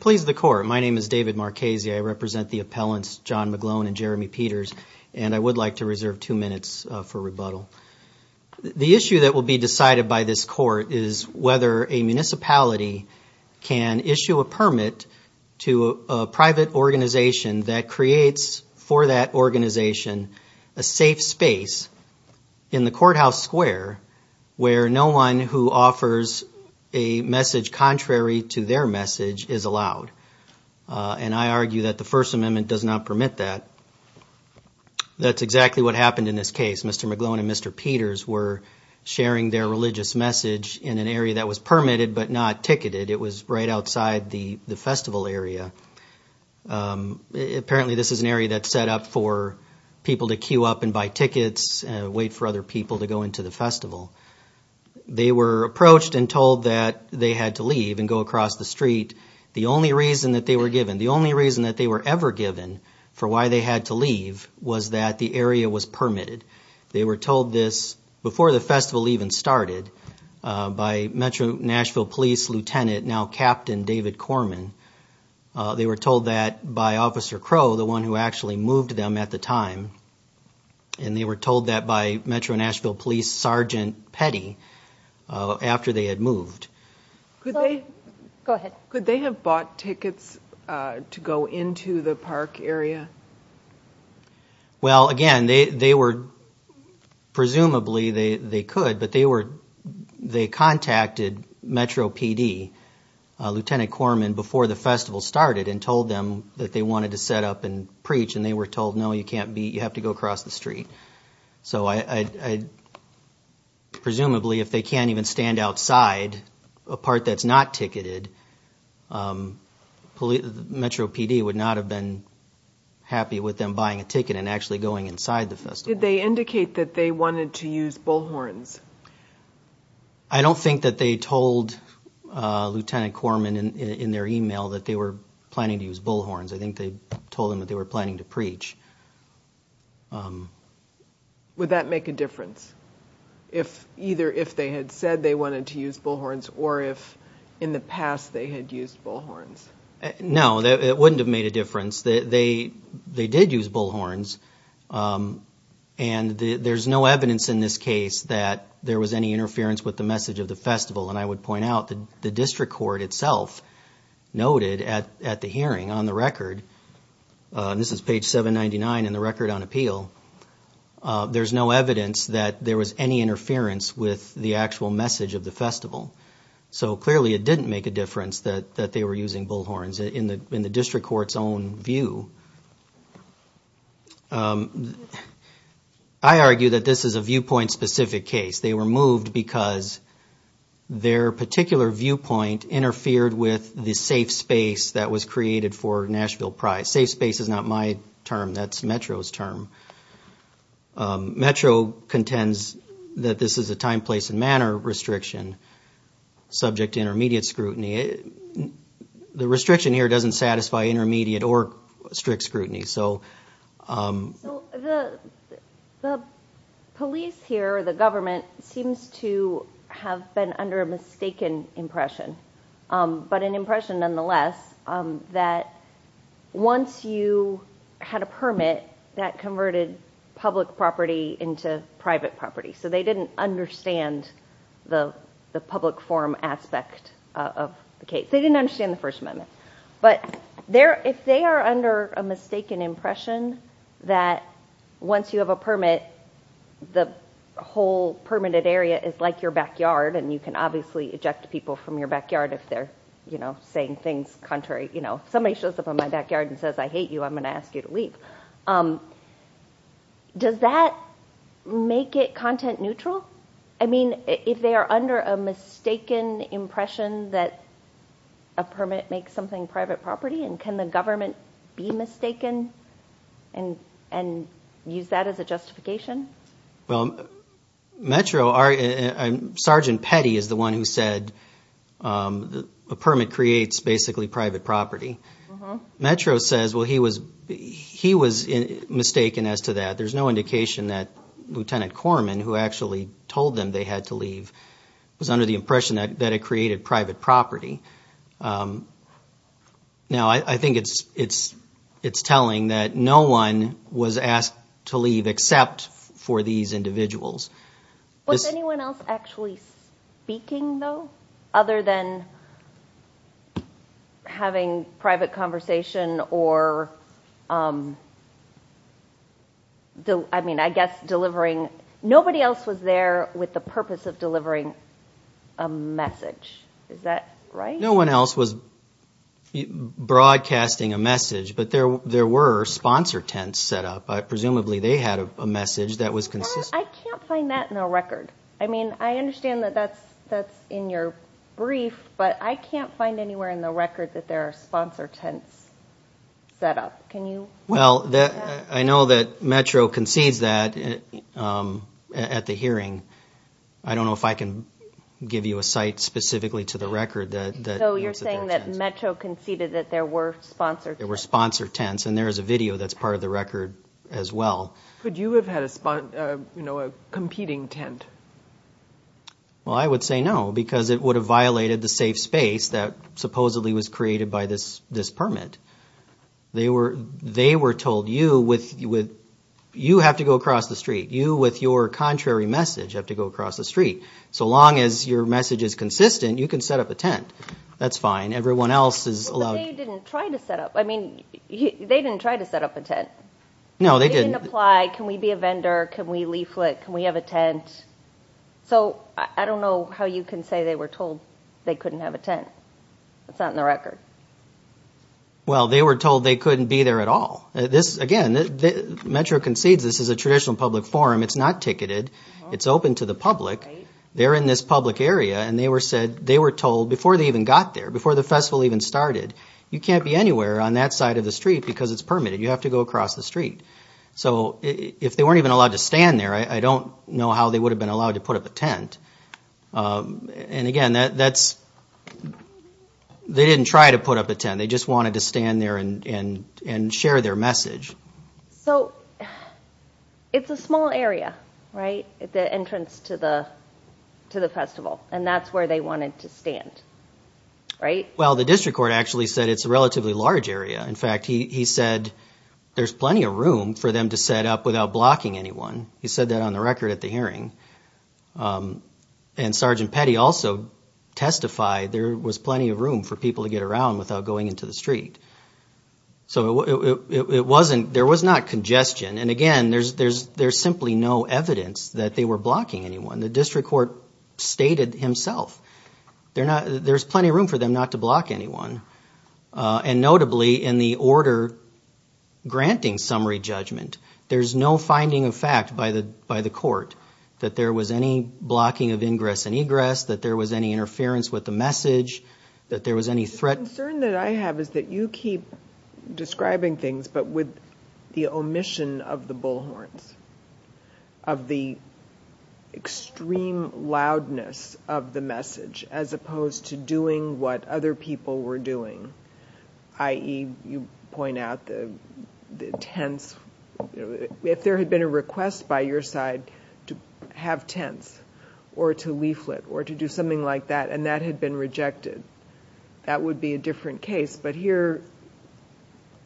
Please the court. My name is David Marchese. I represent the appellants John McGlone and Jeremy Peters, and I would like to reserve two minutes for rebuttal. The issue that will be decided by this court is whether a municipality can issue a permit to a private organization that creates for that organization a safe space in the courthouse square where no one who offers a message contrary to their message is allowed. And I argue that the First Amendment does not permit that. That's exactly what happened in this case. Mr. McGlone and Mr. Peters were sharing their religious message in an area that was permitted but not ticketed. It was right outside the festival area. Apparently this is an area that's set up for people to queue up and buy tickets and wait for other people to go into the festival. They were approached and told that they had to leave and go across the street. The only reason that they were given, the only reason that they were ever given for why they had to leave was that the area was permitted. They were told this before the festival even started by Metro Nashville Police Lieutenant, now Captain David Corman. They were told that by Officer Crow, the one who actually moved them at the time, and they were told that by Metro Nashville Police Sergeant Petty after they had moved. Could they have bought tickets to go into the park area? Well, again, presumably they could, but they contacted Metro PD, Lieutenant Corman, before the festival started and told them that they wanted to set up and preach. They were told, no, you have to go across the street. Presumably, if they can't even stand outside a part that's not ticketed, Metro PD would not have been happy with them buying a ticket and actually going inside the festival. Did they indicate that they wanted to use bullhorns? I don't think that they told Lieutenant Corman in their email that they were planning to use bullhorns. I think they told him that they were planning to preach. Would that make a difference, either if they had said they wanted to use bullhorns or if in the past they had used bullhorns? No, it wouldn't have made a difference. They did use bullhorns, and there's no evidence in this case that there was any interference with the message of the festival. And I would point out that the district court itself noted at the hearing on the record, and this is page 799 in the record on appeal, there's no evidence that there was any interference with the actual message of the festival. So clearly, it didn't make a difference that they were using bullhorns in the district court's own view. I argue that this is a viewpoint-specific case. They were moved because their particular viewpoint interfered with the safe space that was created for Nashville Pride. Safe space is not my term. That's Metro's term. Metro contends that this is a time, place, and manner restriction subject to intermediate scrutiny. The restriction here doesn't satisfy intermediate or strict scrutiny. The police here, the government, seems to have been under a mistaken impression, but an impression nonetheless that once you had a permit, that converted public property into private property. So they didn't understand the public forum aspect of the case. They didn't understand the First Amendment. But if they are under a mistaken impression that once you have a permit, the whole permitted area is like your backyard, and you can obviously eject people from your backyard if they're saying things contrary. Somebody shows up in my backyard and says, I hate you. I'm going to ask you to leave. Does that make it content neutral? I mean, if they are under a mistaken impression that a permit makes something private property, can the government be mistaken and use that as a justification? Well, Metro, Sergeant Petty is the one who said a permit creates basically private property. Metro says, well, he was mistaken as to that. There's no indication that Lieutenant Corman, who actually told them they had to leave, was under the impression that it created private property. Now, I think it's telling that no one was asked to leave except for these individuals. Was anyone else actually speaking, though, other than having private conversation or – I mean, I guess delivering – nobody else was there with the purpose of delivering a message. Is that right? No one else was broadcasting a message, but there were sponsor tents set up. Presumably, they had a message that was consistent. I can't find that in the record. I mean, I understand that that's in your brief, but I can't find anywhere in the record that there are sponsor tents set up. Can you – Well, I know that Metro concedes that at the hearing. I don't know if I can give you a site specifically to the record that – So you're saying that Metro conceded that there were sponsor tents. There were sponsor tents, and there is a video that's part of the record as well. Could you have had a competing tent? Well, I would say no, because it would have violated the safe space that supposedly was created by this permit. They were told, you have to go across the street. You, with your contrary message, have to go across the street. So long as your message is consistent, you can set up a tent. That's fine. Everyone else is allowed – But they didn't try to set up – I mean, they didn't try to set up a tent. No, they didn't. They didn't apply. Can we be a vendor? Can we leaflet? Can we have a tent? So I don't know how you can say they were told they couldn't have a tent. That's not in the record. Well, they were told they couldn't be there at all. This, again, Metro concedes this is a traditional public forum. It's not ticketed. It's open to the public. They're in this public area, and they were told, before they even got there, before the festival even started, you can't be anywhere on that side of the street because it's permitted. You have to go across the street. So if they weren't even allowed to stand there, I don't know how they would have been allowed to put up a tent. And again, that's – they didn't try to put up a tent. They just wanted to stand there and share their message. So it's a small area, right, at the entrance to the festival, and that's where they wanted to stand, right? Well, the district court actually said it's a relatively large area. In fact, he said there's plenty of room for them to set up without blocking anyone. He said that on the record at the hearing. And Sergeant Petty also testified there was plenty of room for people to get around without going into the street. So it wasn't – there was not congestion. And again, there's simply no evidence that they were blocking anyone. The district court stated himself there's plenty of room for them not to block anyone. And notably, in the order granting summary judgment, there's no finding of fact by the court that there was any blocking of ingress and egress, that there was any interference with the message, that there was any threat. The concern that I have is that you keep describing things, but with the omission of the bullhorns, of the extreme loudness of the message, as opposed to doing what other people were doing, i.e., you point out the tents. If there had been a request by your side to have tents or to leaflet or to do something like that, and that had been rejected, that would be a different case. But here,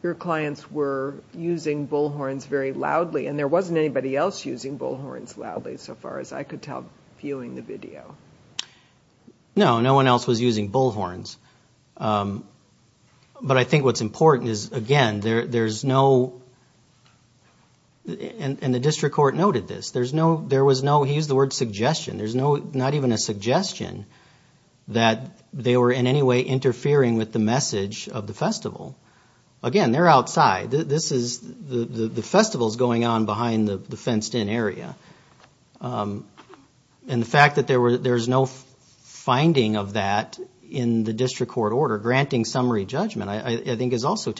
your clients were using bullhorns very loudly. And there wasn't anybody else using bullhorns loudly, so far as I could tell, viewing the video. No, no one else was using bullhorns. But I think what's important is, again, there's no – and the district court noted this – there was no – he used the word suggestion. There's not even a suggestion that they were in any way interfering with the message of the festival. Again, they're outside. The festival's going on behind the fenced-in area. And the fact that there's no finding of that in the district court order, granting summary judgment, I think is also –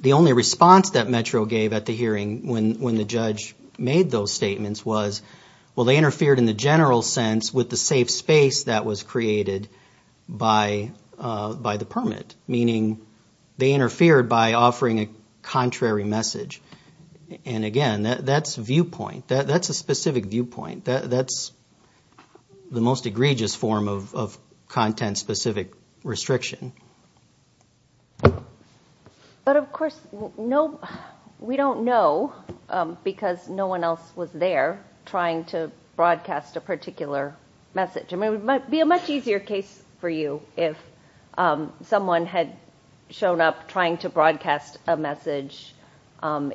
The only response that Metro gave at the hearing when the judge made those statements was, well, they interfered in the general sense with the safe space that was created by the permit, meaning they interfered by offering a contrary message. And again, that's viewpoint. That's a specific viewpoint. That's the most egregious form of content-specific restriction. But, of course, we don't know because no one else was there trying to broadcast a particular message. I mean, it might be a much easier case for you if someone had shown up trying to broadcast a message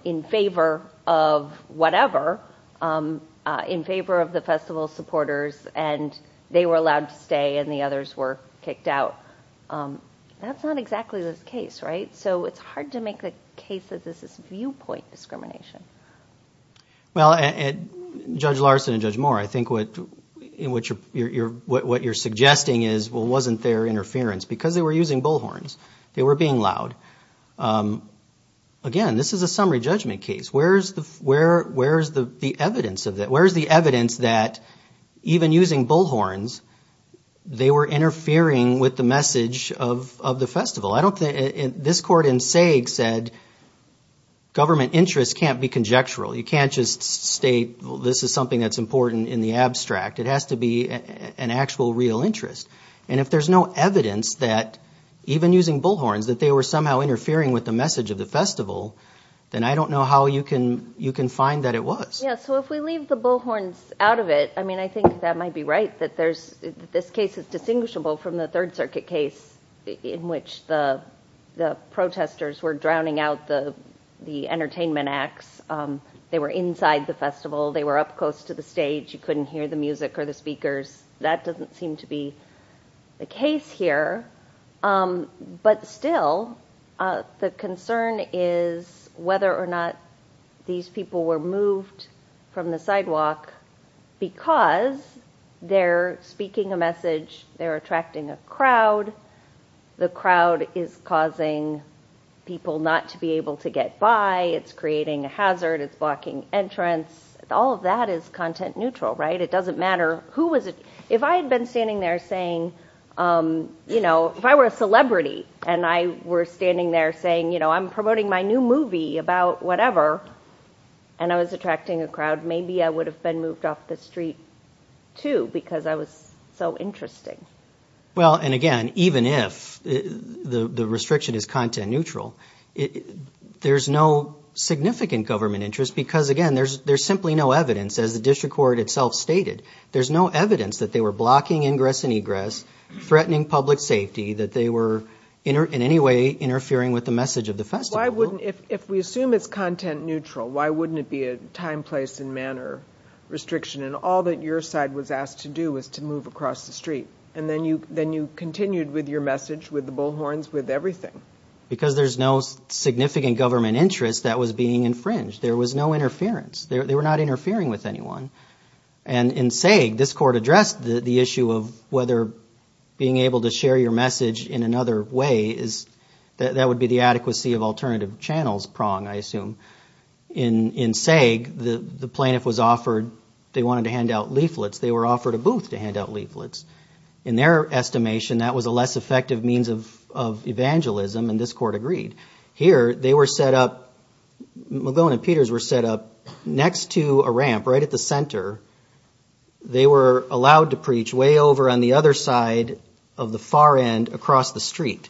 in favor of whatever, in favor of the festival supporters, and they were allowed to stay and the others were kicked out. That's not exactly this case, right? So it's hard to make the case that this is viewpoint discrimination. Well, Judge Larson and Judge Moore, I think what you're suggesting is, well, wasn't there interference? Because they were using bullhorns. They were being loud. Again, this is a summary judgment case. Where is the evidence of that? Where is the evidence that even using bullhorns, they were interfering with the message of the festival? I don't think this court in SAIG said government interest can't be conjectural. You can't just state this is something that's important in the abstract. It has to be an actual real interest. And if there's no evidence that even using bullhorns, that they were somehow interfering with the message of the festival, then I don't know how you can find that it was. Yeah, so if we leave the bullhorns out of it, I mean, I think that might be right, that this case is distinguishable from the Third Circuit case in which the protesters were drowning out the entertainment acts. They were inside the festival. They were up close to the stage. You couldn't hear the music or the speakers. That doesn't seem to be the case here. But still, the concern is whether or not these people were moved from the sidewalk because they're speaking a message. They're attracting a crowd. The crowd is causing people not to be able to get by. It's creating a hazard. It's blocking entrance. All of that is content neutral, right? It doesn't matter who was it. If I had been standing there saying, you know, if I were a celebrity and I were standing there saying, you know, I'm promoting my new movie about whatever and I was attracting a crowd, maybe I would have been moved off the street, too, because I was so interesting. Well, and again, even if the restriction is content neutral, there's no significant government interest because, again, there's simply no evidence, as the district court itself stated. There's no evidence that they were blocking ingress and egress, threatening public safety, that they were in any way interfering with the message of the festival. If we assume it's content neutral, why wouldn't it be a time, place and manner restriction? And all that your side was asked to do was to move across the street. And then you then you continued with your message, with the bullhorns, with everything. Because there's no significant government interest that was being infringed. There was no interference. They were not interfering with anyone. And in SAIG, this court addressed the issue of whether being able to share your message in another way is that would be the adequacy of alternative channels prong, I assume. In SAIG, the plaintiff was offered, they wanted to hand out leaflets. They were offered a booth to hand out leaflets. In their estimation, that was a less effective means of evangelism, and this court agreed. Here, they were set up, Magone and Peters were set up next to a ramp right at the center. They were allowed to preach way over on the other side of the far end across the street.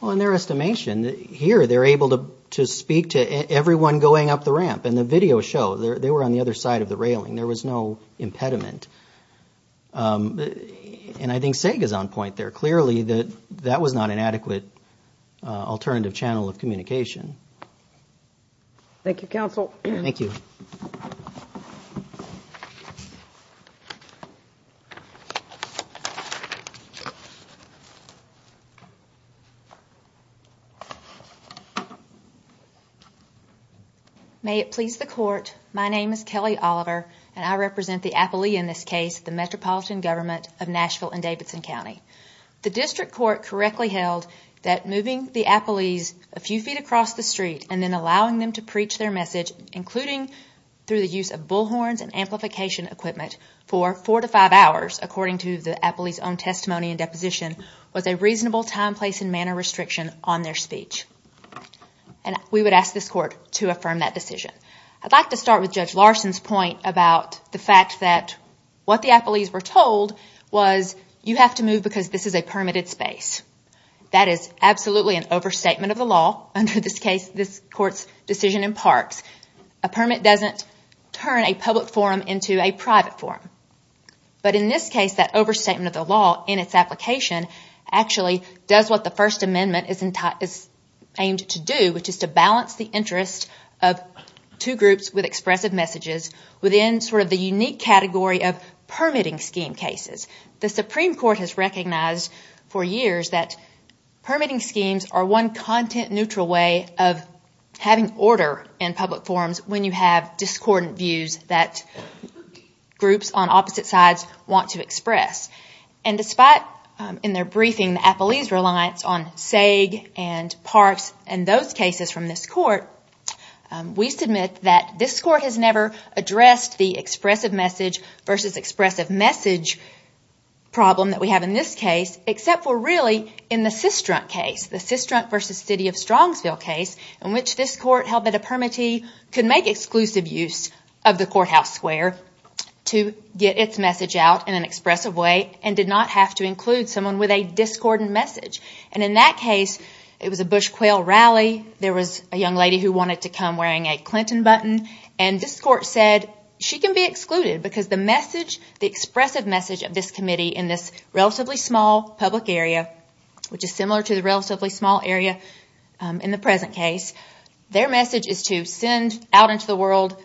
Well, in their estimation, here they're able to speak to everyone going up the ramp. In the video show, they were on the other side of the railing. There was no impediment. And I think SAIG is on point there. Clearly, that was not an adequate alternative channel of communication. Thank you, counsel. Thank you. May it please the court, my name is Kelly Oliver, and I represent the appellee in this case, the Metropolitan Government of Nashville and Davidson County. The district court correctly held that moving the appellees a few feet across the street and then allowing them to preach their message, including through the use of bullhorns and amplification equipment for four to five hours, according to the appellee's own testimony and deposition, was a reasonable time, place, and manner restriction on their speech. And we would ask this court to affirm that decision. I'd like to start with Judge Larson's point about the fact that what the appellees were told was, you have to move because this is a permitted space. That is absolutely an overstatement of the law under this court's decision in Parks. A permit doesn't turn a public forum into a private forum. But in this case, that overstatement of the law in its application actually does what the First Amendment is aimed to do, which is to balance the interest of two groups with expressive messages within sort of the unique category of permitting scheme cases. The Supreme Court has recognized for years that permitting schemes are one content-neutral way of having order in public forums when you have discordant views that groups on opposite sides want to express. And despite, in their briefing, the appellee's reliance on SAG and Parks and those cases from this court, we submit that this court has never addressed the expressive message versus expressive message problem that we have in this case, except for really in the Sistrunk case, the Sistrunk versus City of Strongsville case, in which this court held that a permittee could make exclusive use of the courthouse square to get its message out in an expressive way and did not have to include someone with a discordant message. And in that case, it was a bush quail rally, there was a young lady who wanted to come wearing a Clinton button, and this court said she can be excluded because the expressive message of this committee in this relatively small public area, which is similar to the relatively small area in the present case, their message is to send out into the world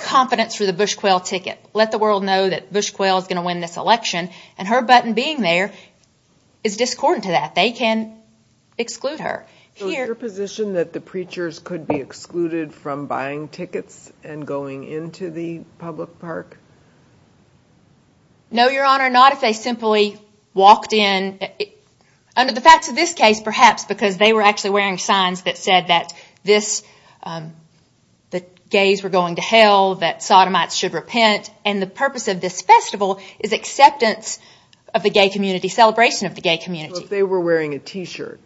confidence for the bush quail ticket. Let the world know that bush quail is going to win this election, and her button being there is discordant to that. They can exclude her. So is your position that the preachers could be excluded from buying tickets and going into the public park? No, Your Honor, not if they simply walked in. Under the facts of this case, perhaps, because they were actually wearing signs that said that gays were going to hell, that sodomites should repent, and the purpose of this festival is acceptance of the gay community, celebration of the gay community. So if they were wearing a T-shirt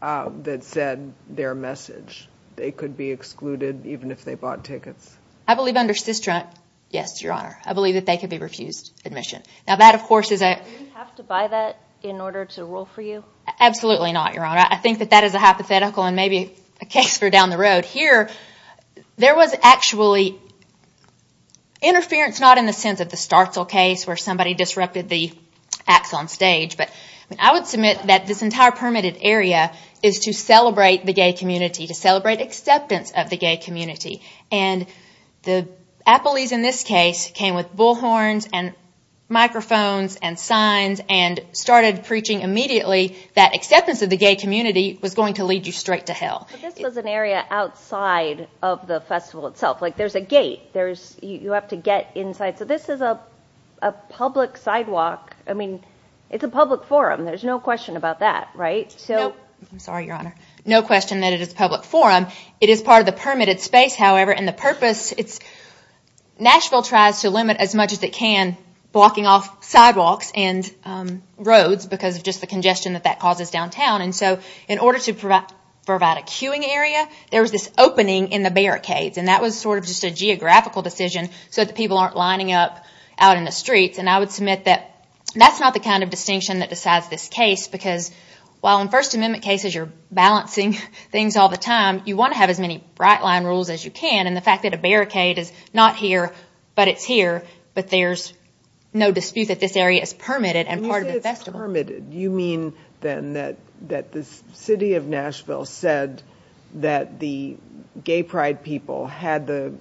that said their message, they could be excluded even if they bought tickets? I believe under Cistron, yes, Your Honor. I believe that they could be refused admission. Now that, of course, is a- Do you have to buy that in order to rule for you? Absolutely not, Your Honor. I think that that is a hypothetical and maybe a case for down the road. Here, there was actually interference, not in the sense of the Startle case where somebody disrupted the acts on stage, but I would submit that this entire permitted area is to celebrate the gay community, to celebrate acceptance of the gay community. And the appellees in this case came with bullhorns and microphones and signs and started preaching immediately that acceptance of the gay community was going to lead you straight to hell. But this was an area outside of the festival itself. Like, there's a gate. You have to get inside. So this is a public sidewalk. I mean, it's a public forum. No. I'm sorry, Your Honor. No question that it is a public forum. It is part of the permitted space, however, and the purpose, it's- Nashville tries to limit as much as it can blocking off sidewalks and roads because of just the congestion that that causes downtown. And so in order to provide a queuing area, there was this opening in the barricades, and that was sort of just a geographical decision so that the people aren't lining up out in the streets. And I would submit that that's not the kind of distinction that decides this case because while in First Amendment cases you're balancing things all the time, you want to have as many bright-line rules as you can, and the fact that a barricade is not here but it's here, but there's no dispute that this area is permitted and part of the festival. When you say it's permitted, you mean then that the city of Nashville said that the gay pride people had the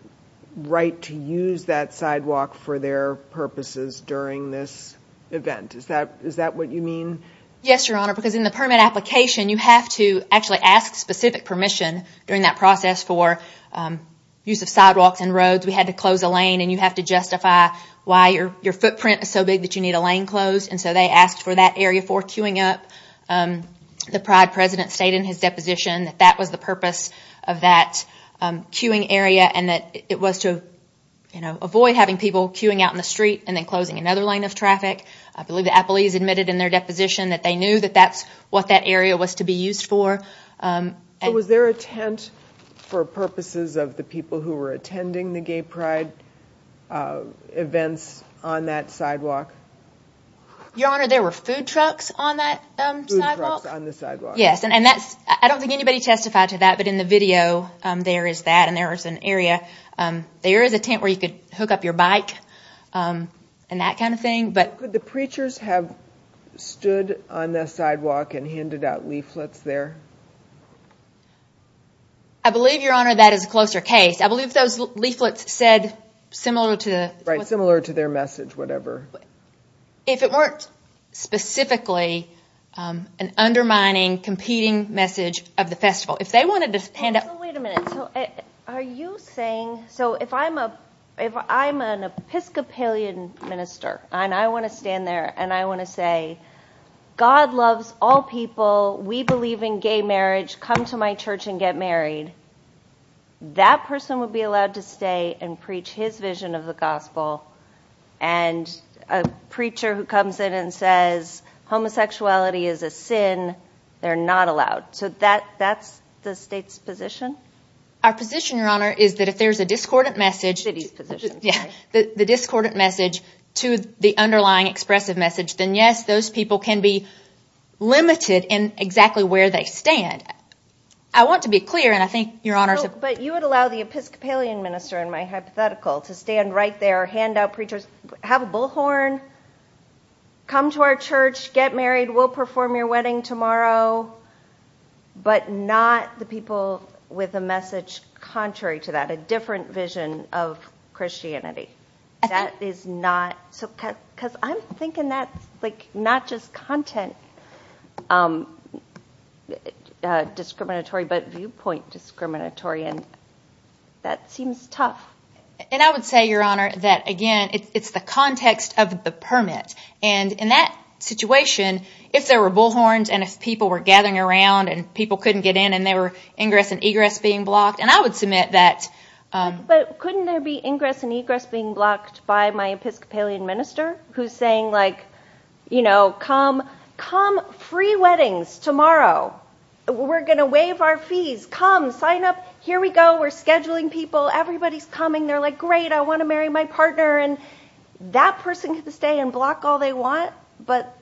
right to use that sidewalk for their purposes during this event. Is that what you mean? Yes, Your Honor, because in the permit application, you have to actually ask specific permission during that process for use of sidewalks and roads. We had to close a lane, and you have to justify why your footprint is so big that you need a lane closed. And so they asked for that area for queuing up. The pride president stated in his deposition that that was the purpose of that queuing area and that it was to avoid having people queuing out in the street and then closing another lane of traffic. I believe the appellees admitted in their deposition that they knew that that's what that area was to be used for. Was there a tent for purposes of the people who were attending the gay pride events on that sidewalk? Your Honor, there were food trucks on that sidewalk. Food trucks on the sidewalk. Yes, and I don't think anybody testified to that, but in the video, there is that, and there is an area. There is a tent where you could hook up your bike and that kind of thing. Could the preachers have stood on that sidewalk and handed out leaflets there? I believe, Your Honor, that is a closer case. I believe those leaflets said similar to their message, whatever. If it weren't specifically an undermining, competing message of the festival. Wait a minute. Are you saying, so if I'm an Episcopalian minister and I want to stand there and I want to say, God loves all people, we believe in gay marriage, come to my church and get married, that person would be allowed to stay and preach his vision of the gospel and a preacher who comes in and says homosexuality is a sin, they're not allowed. So that's the state's position? Our position, Your Honor, is that if there's a discordant message to the underlying expressive message, then yes, those people can be limited in exactly where they stand. I want to be clear, and I think Your Honor... But you would allow the Episcopalian minister in my hypothetical to stand right there, hand out preachers, have a bullhorn, come to our church, get married, we'll perform your wedding tomorrow, but not the people with a message contrary to that, a different vision of Christianity. That is not... Because I'm thinking that's not just content discriminatory, but viewpoint discriminatory, and that seems tough. And I would say, Your Honor, that again, it's the context of the permit. And in that situation, if there were bullhorns and if people were gathering around and people couldn't get in and there were ingress and egress being blocked, and I would submit that... But couldn't there be ingress and egress being blocked by my Episcopalian minister who's saying, like, you know, come, come, free weddings tomorrow. We're going to waive our fees. Come, sign up. Here we go. We're scheduling people. Everybody's coming. They're like, great, I want to marry my partner. And that person can stay and block all they want, but...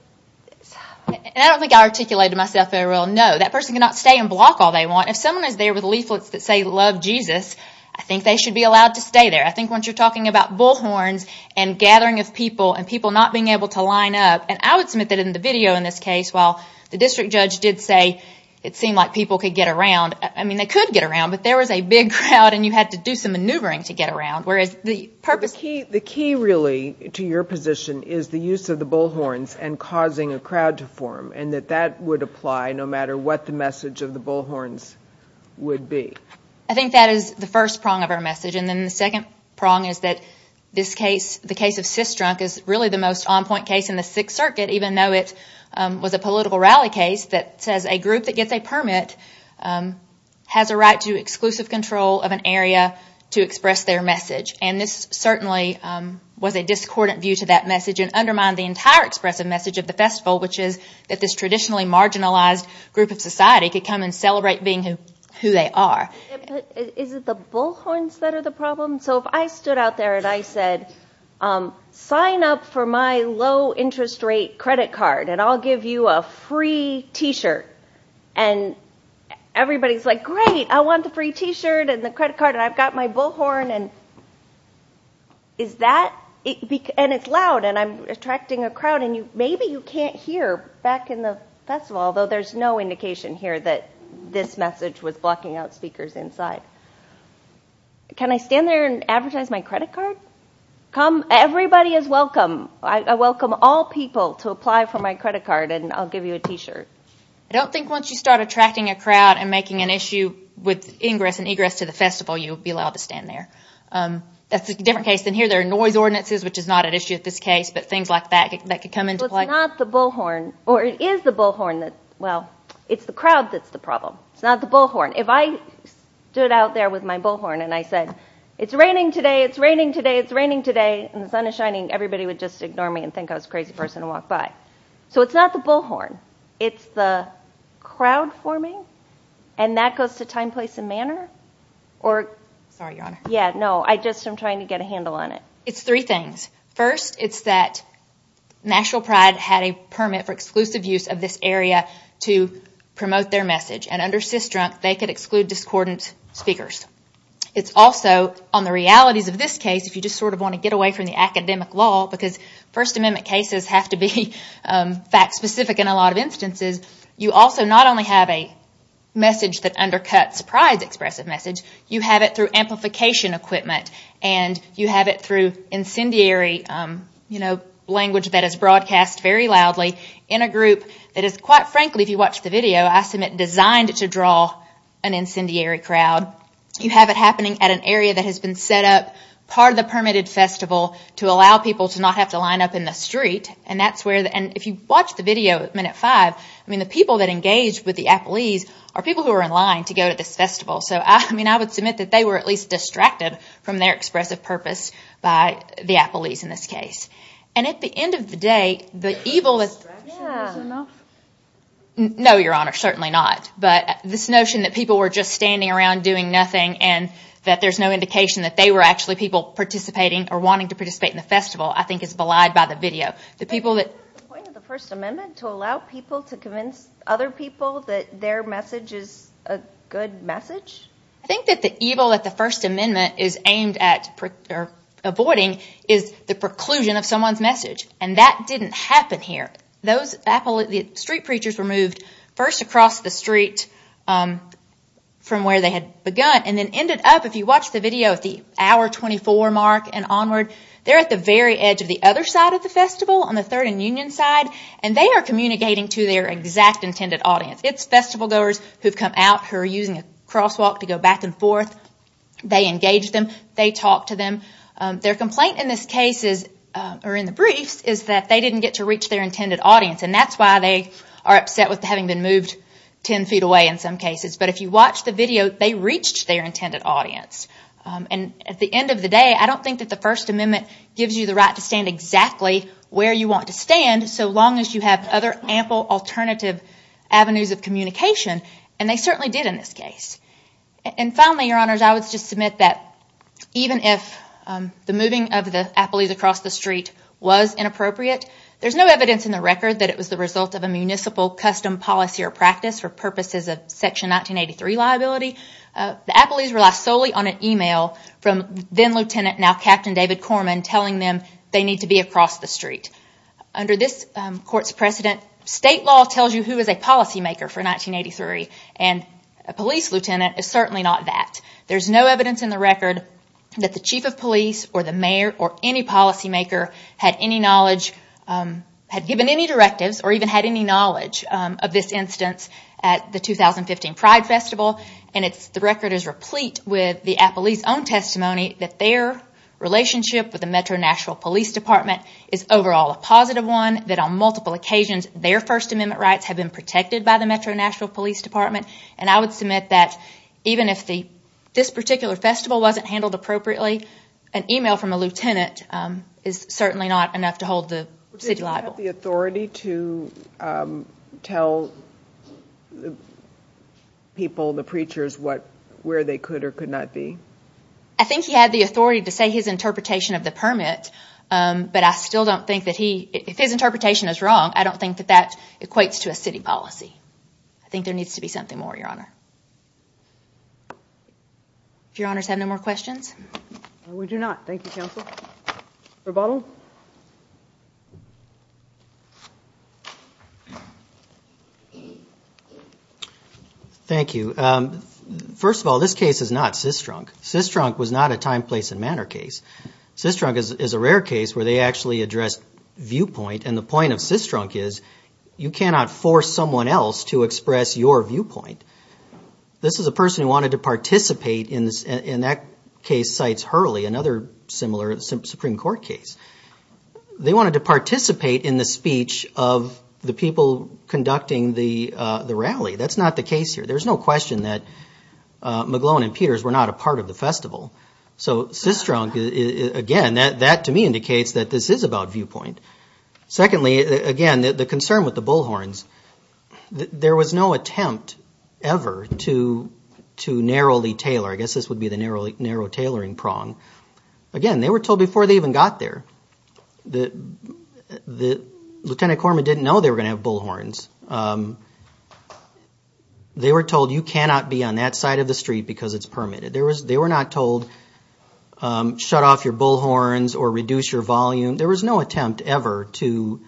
I don't think I articulated myself very well. No, that person cannot stay and block all they want. If someone is there with leaflets that say, love Jesus, I think they should be allowed to stay there. I think once you're talking about bullhorns and gathering of people and people not being able to line up, and I would submit that in the video in this case, while the district judge did say it seemed like people could get around, I mean, they could get around, but there was a big crowd and you had to do some maneuvering to get around, whereas the purpose... The key, really, to your position is the use of the bullhorns and causing a crowd to form and that that would apply no matter what the message of the bullhorns would be. I think that is the first prong of our message. And then the second prong is that this case, the case of CISDRUNK, is really the most on-point case in the Sixth Circuit, even though it was a political rally case that says a group that gets a permit has a right to exclusive control of an area to express their message. And this certainly was a discordant view to that message and undermined the entire expressive message of the festival, which is that this traditionally marginalized group of society could come and celebrate being who they are. Is it the bullhorns that are the problem? So if I stood out there and I said, sign up for my low interest rate credit card and I'll give you a free T-shirt, and everybody's like, great, I want the free T-shirt and the credit card and I've got my bullhorn and it's loud and I'm attracting a crowd and maybe you can't hear back in the festival, although there's no indication here that this message was blocking out speakers inside. Can I stand there and advertise my credit card? Everybody is welcome. I welcome all people to apply for my credit card and I'll give you a T-shirt. I don't think once you start attracting a crowd and making an issue with ingress and egress to the festival, you'll be allowed to stand there. That's a different case than here. There are noise ordinances, which is not an issue in this case, but things like that that could come into play. Well, it's not the bullhorn, or it is the bullhorn that, well, it's the crowd that's the problem. It's not the bullhorn. If I stood out there with my bullhorn and I said, it's raining today, it's raining today, it's raining today, and the sun is shining, everybody would just ignore me and think I was a crazy person and walk by. So it's not the bullhorn. It's the crowd forming, and that goes to time, place, and manner. Sorry, Your Honor. Yeah, no, I'm just trying to get a handle on it. It's three things. First, it's that National Pride had a permit for exclusive use of this area to promote their message, and under CISDRUNK, they could exclude discordant speakers. It's also, on the realities of this case, if you just sort of want to get away from the academic law, because First Amendment cases have to be fact-specific in a lot of instances, you also not only have a message that undercuts pride's expressive message, you have it through amplification equipment, and you have it through incendiary language that is broadcast very loudly in a group that is, quite frankly, if you watch the video, I submit designed to draw an incendiary crowd. You have it happening at an area that has been set up, part of the permitted festival, to allow people to not have to line up in the street, and if you watch the video at minute five, the people that engaged with the Applees are people who are in line to go to this festival. So I would submit that they were at least distracted from their expressive purpose by the Applees in this case. And at the end of the day, the evil that... The distraction wasn't enough? No, Your Honor, certainly not. But this notion that people were just standing around doing nothing and that there's no indication that they were actually people participating or wanting to participate in the festival, I think is belied by the video. The people that... The point of the First Amendment to allow people to convince other people that their message is a good message? I think that the evil that the First Amendment is aimed at avoiding is the preclusion of someone's message, and that didn't happen here. Those street preachers were moved first across the street from where they had begun, and then ended up, if you watch the video at the hour 24 mark and onward, they're at the very edge of the other side of the festival, on the Third and Union side, and they are communicating to their exact intended audience. It's festival goers who've come out, who are using a crosswalk to go back and forth. They engage them, they talk to them. Their complaint in this case is, or in the briefs, is that they didn't get to reach their intended audience, and that's why they are upset with having been moved ten feet away in some cases. But if you watch the video, they reached their intended audience. And at the end of the day, I don't think that the First Amendment gives you the right to stand exactly where you want to stand, so long as you have other ample alternative avenues of communication, and they certainly did in this case. And finally, Your Honors, I would just submit that even if the moving of the athletes across the street was inappropriate, there's no evidence in the record that it was the result of a municipal custom, policy, or practice for purposes of Section 1983 liability. The athletes rely solely on an email from then-Lieutenant, now-Captain David Corman, telling them they need to be across the street. Under this Court's precedent, state law tells you who is a policymaker for 1983, and a police lieutenant is certainly not that. There's no evidence in the record that the chief of police, or the mayor, or any policymaker had any knowledge, had given any directives, or even had any knowledge of this instance at the 2015 Pride Festival, and the record is replete with the athletes' own testimony that their relationship with the Metro Nashville Police Department is overall a positive one, that on multiple occasions their First Amendment rights have been protected by the Metro Nashville Police Department, and I would submit that even if this particular festival wasn't handled appropriately, an email from a lieutenant is certainly not enough to hold the city liable. Did he have the authority to tell people, the preachers, where they could or could not be? I think he had the authority to say his interpretation of the permit, but I still don't think that he, if his interpretation is wrong, I don't think that that equates to a city policy. I think there needs to be something more, Your Honor. Do Your Honors have no more questions? We do not. Thank you, Counsel. Mr. Bottle? Thank you. First of all, this case is not cis-drunk. Cis-drunk was not a time, place, and manner case. Cis-drunk is a rare case where they actually address viewpoint, and the point of cis-drunk is you cannot force someone else to express your viewpoint. This is a person who wanted to participate in that case, Cites Hurley, another similar Supreme Court case. They wanted to participate in the speech of the people conducting the rally. That's not the case here. There's no question that McGlone and Peters were not a part of the festival. So cis-drunk, again, that to me indicates that this is about viewpoint. Secondly, again, the concern with the Bullhorns, there was no attempt ever to narrowly tailor. I guess this would be the narrow tailoring prong. Again, they were told before they even got there. Lieutenant Corman didn't know they were going to have Bullhorns. They were told you cannot be on that side of the street because it's permitted. They were not told shut off your Bullhorns or reduce your volume. There was no attempt ever to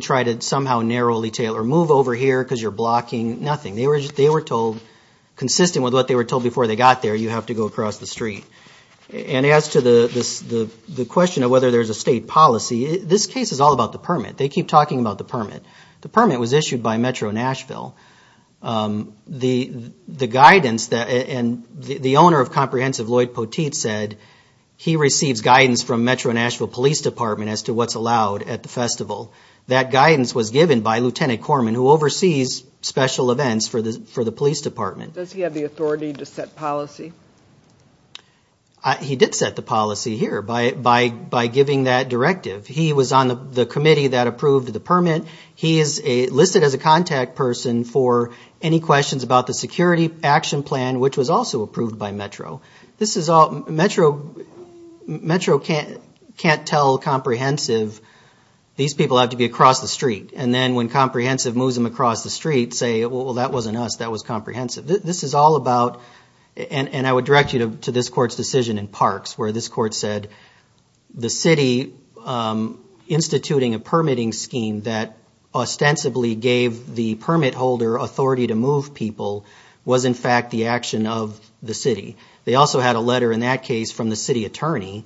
try to somehow narrowly tailor. Move over here because you're blocking. Nothing. They were told, consistent with what they were told before they got there, you have to go across the street. And as to the question of whether there's a state policy, this case is all about the permit. They keep talking about the permit. The permit was issued by Metro Nashville. The guidance and the owner of Comprehensive, Lloyd Poteet, said he receives guidance from Metro Nashville Police Department as to what's allowed at the festival. That guidance was given by Lieutenant Corman, who oversees special events for the police department. Does he have the authority to set policy? He did set the policy here by giving that directive. He was on the committee that approved the permit. He is listed as a contact person for any questions about the security action plan, which was also approved by Metro. Metro can't tell Comprehensive, these people have to be across the street. And then when Comprehensive moves them across the street, say, well, that wasn't us, that was Comprehensive. This is all about, and I would direct you to this court's decision in Parks, where this court said the city instituting a permitting scheme that ostensibly gave the permit holder authority to move people was, in fact, the action of the city. They also had a letter in that case from the city attorney.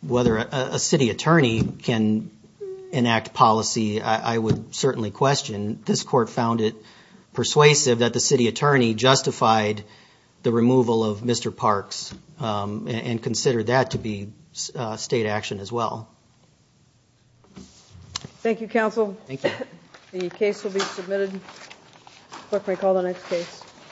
Whether a city attorney can enact policy, I would certainly question. This court found it persuasive that the city attorney justified the removal of Mr. Parks and considered that to be state action as well. Thank you, counsel. The case will be submitted. Court may call the next case.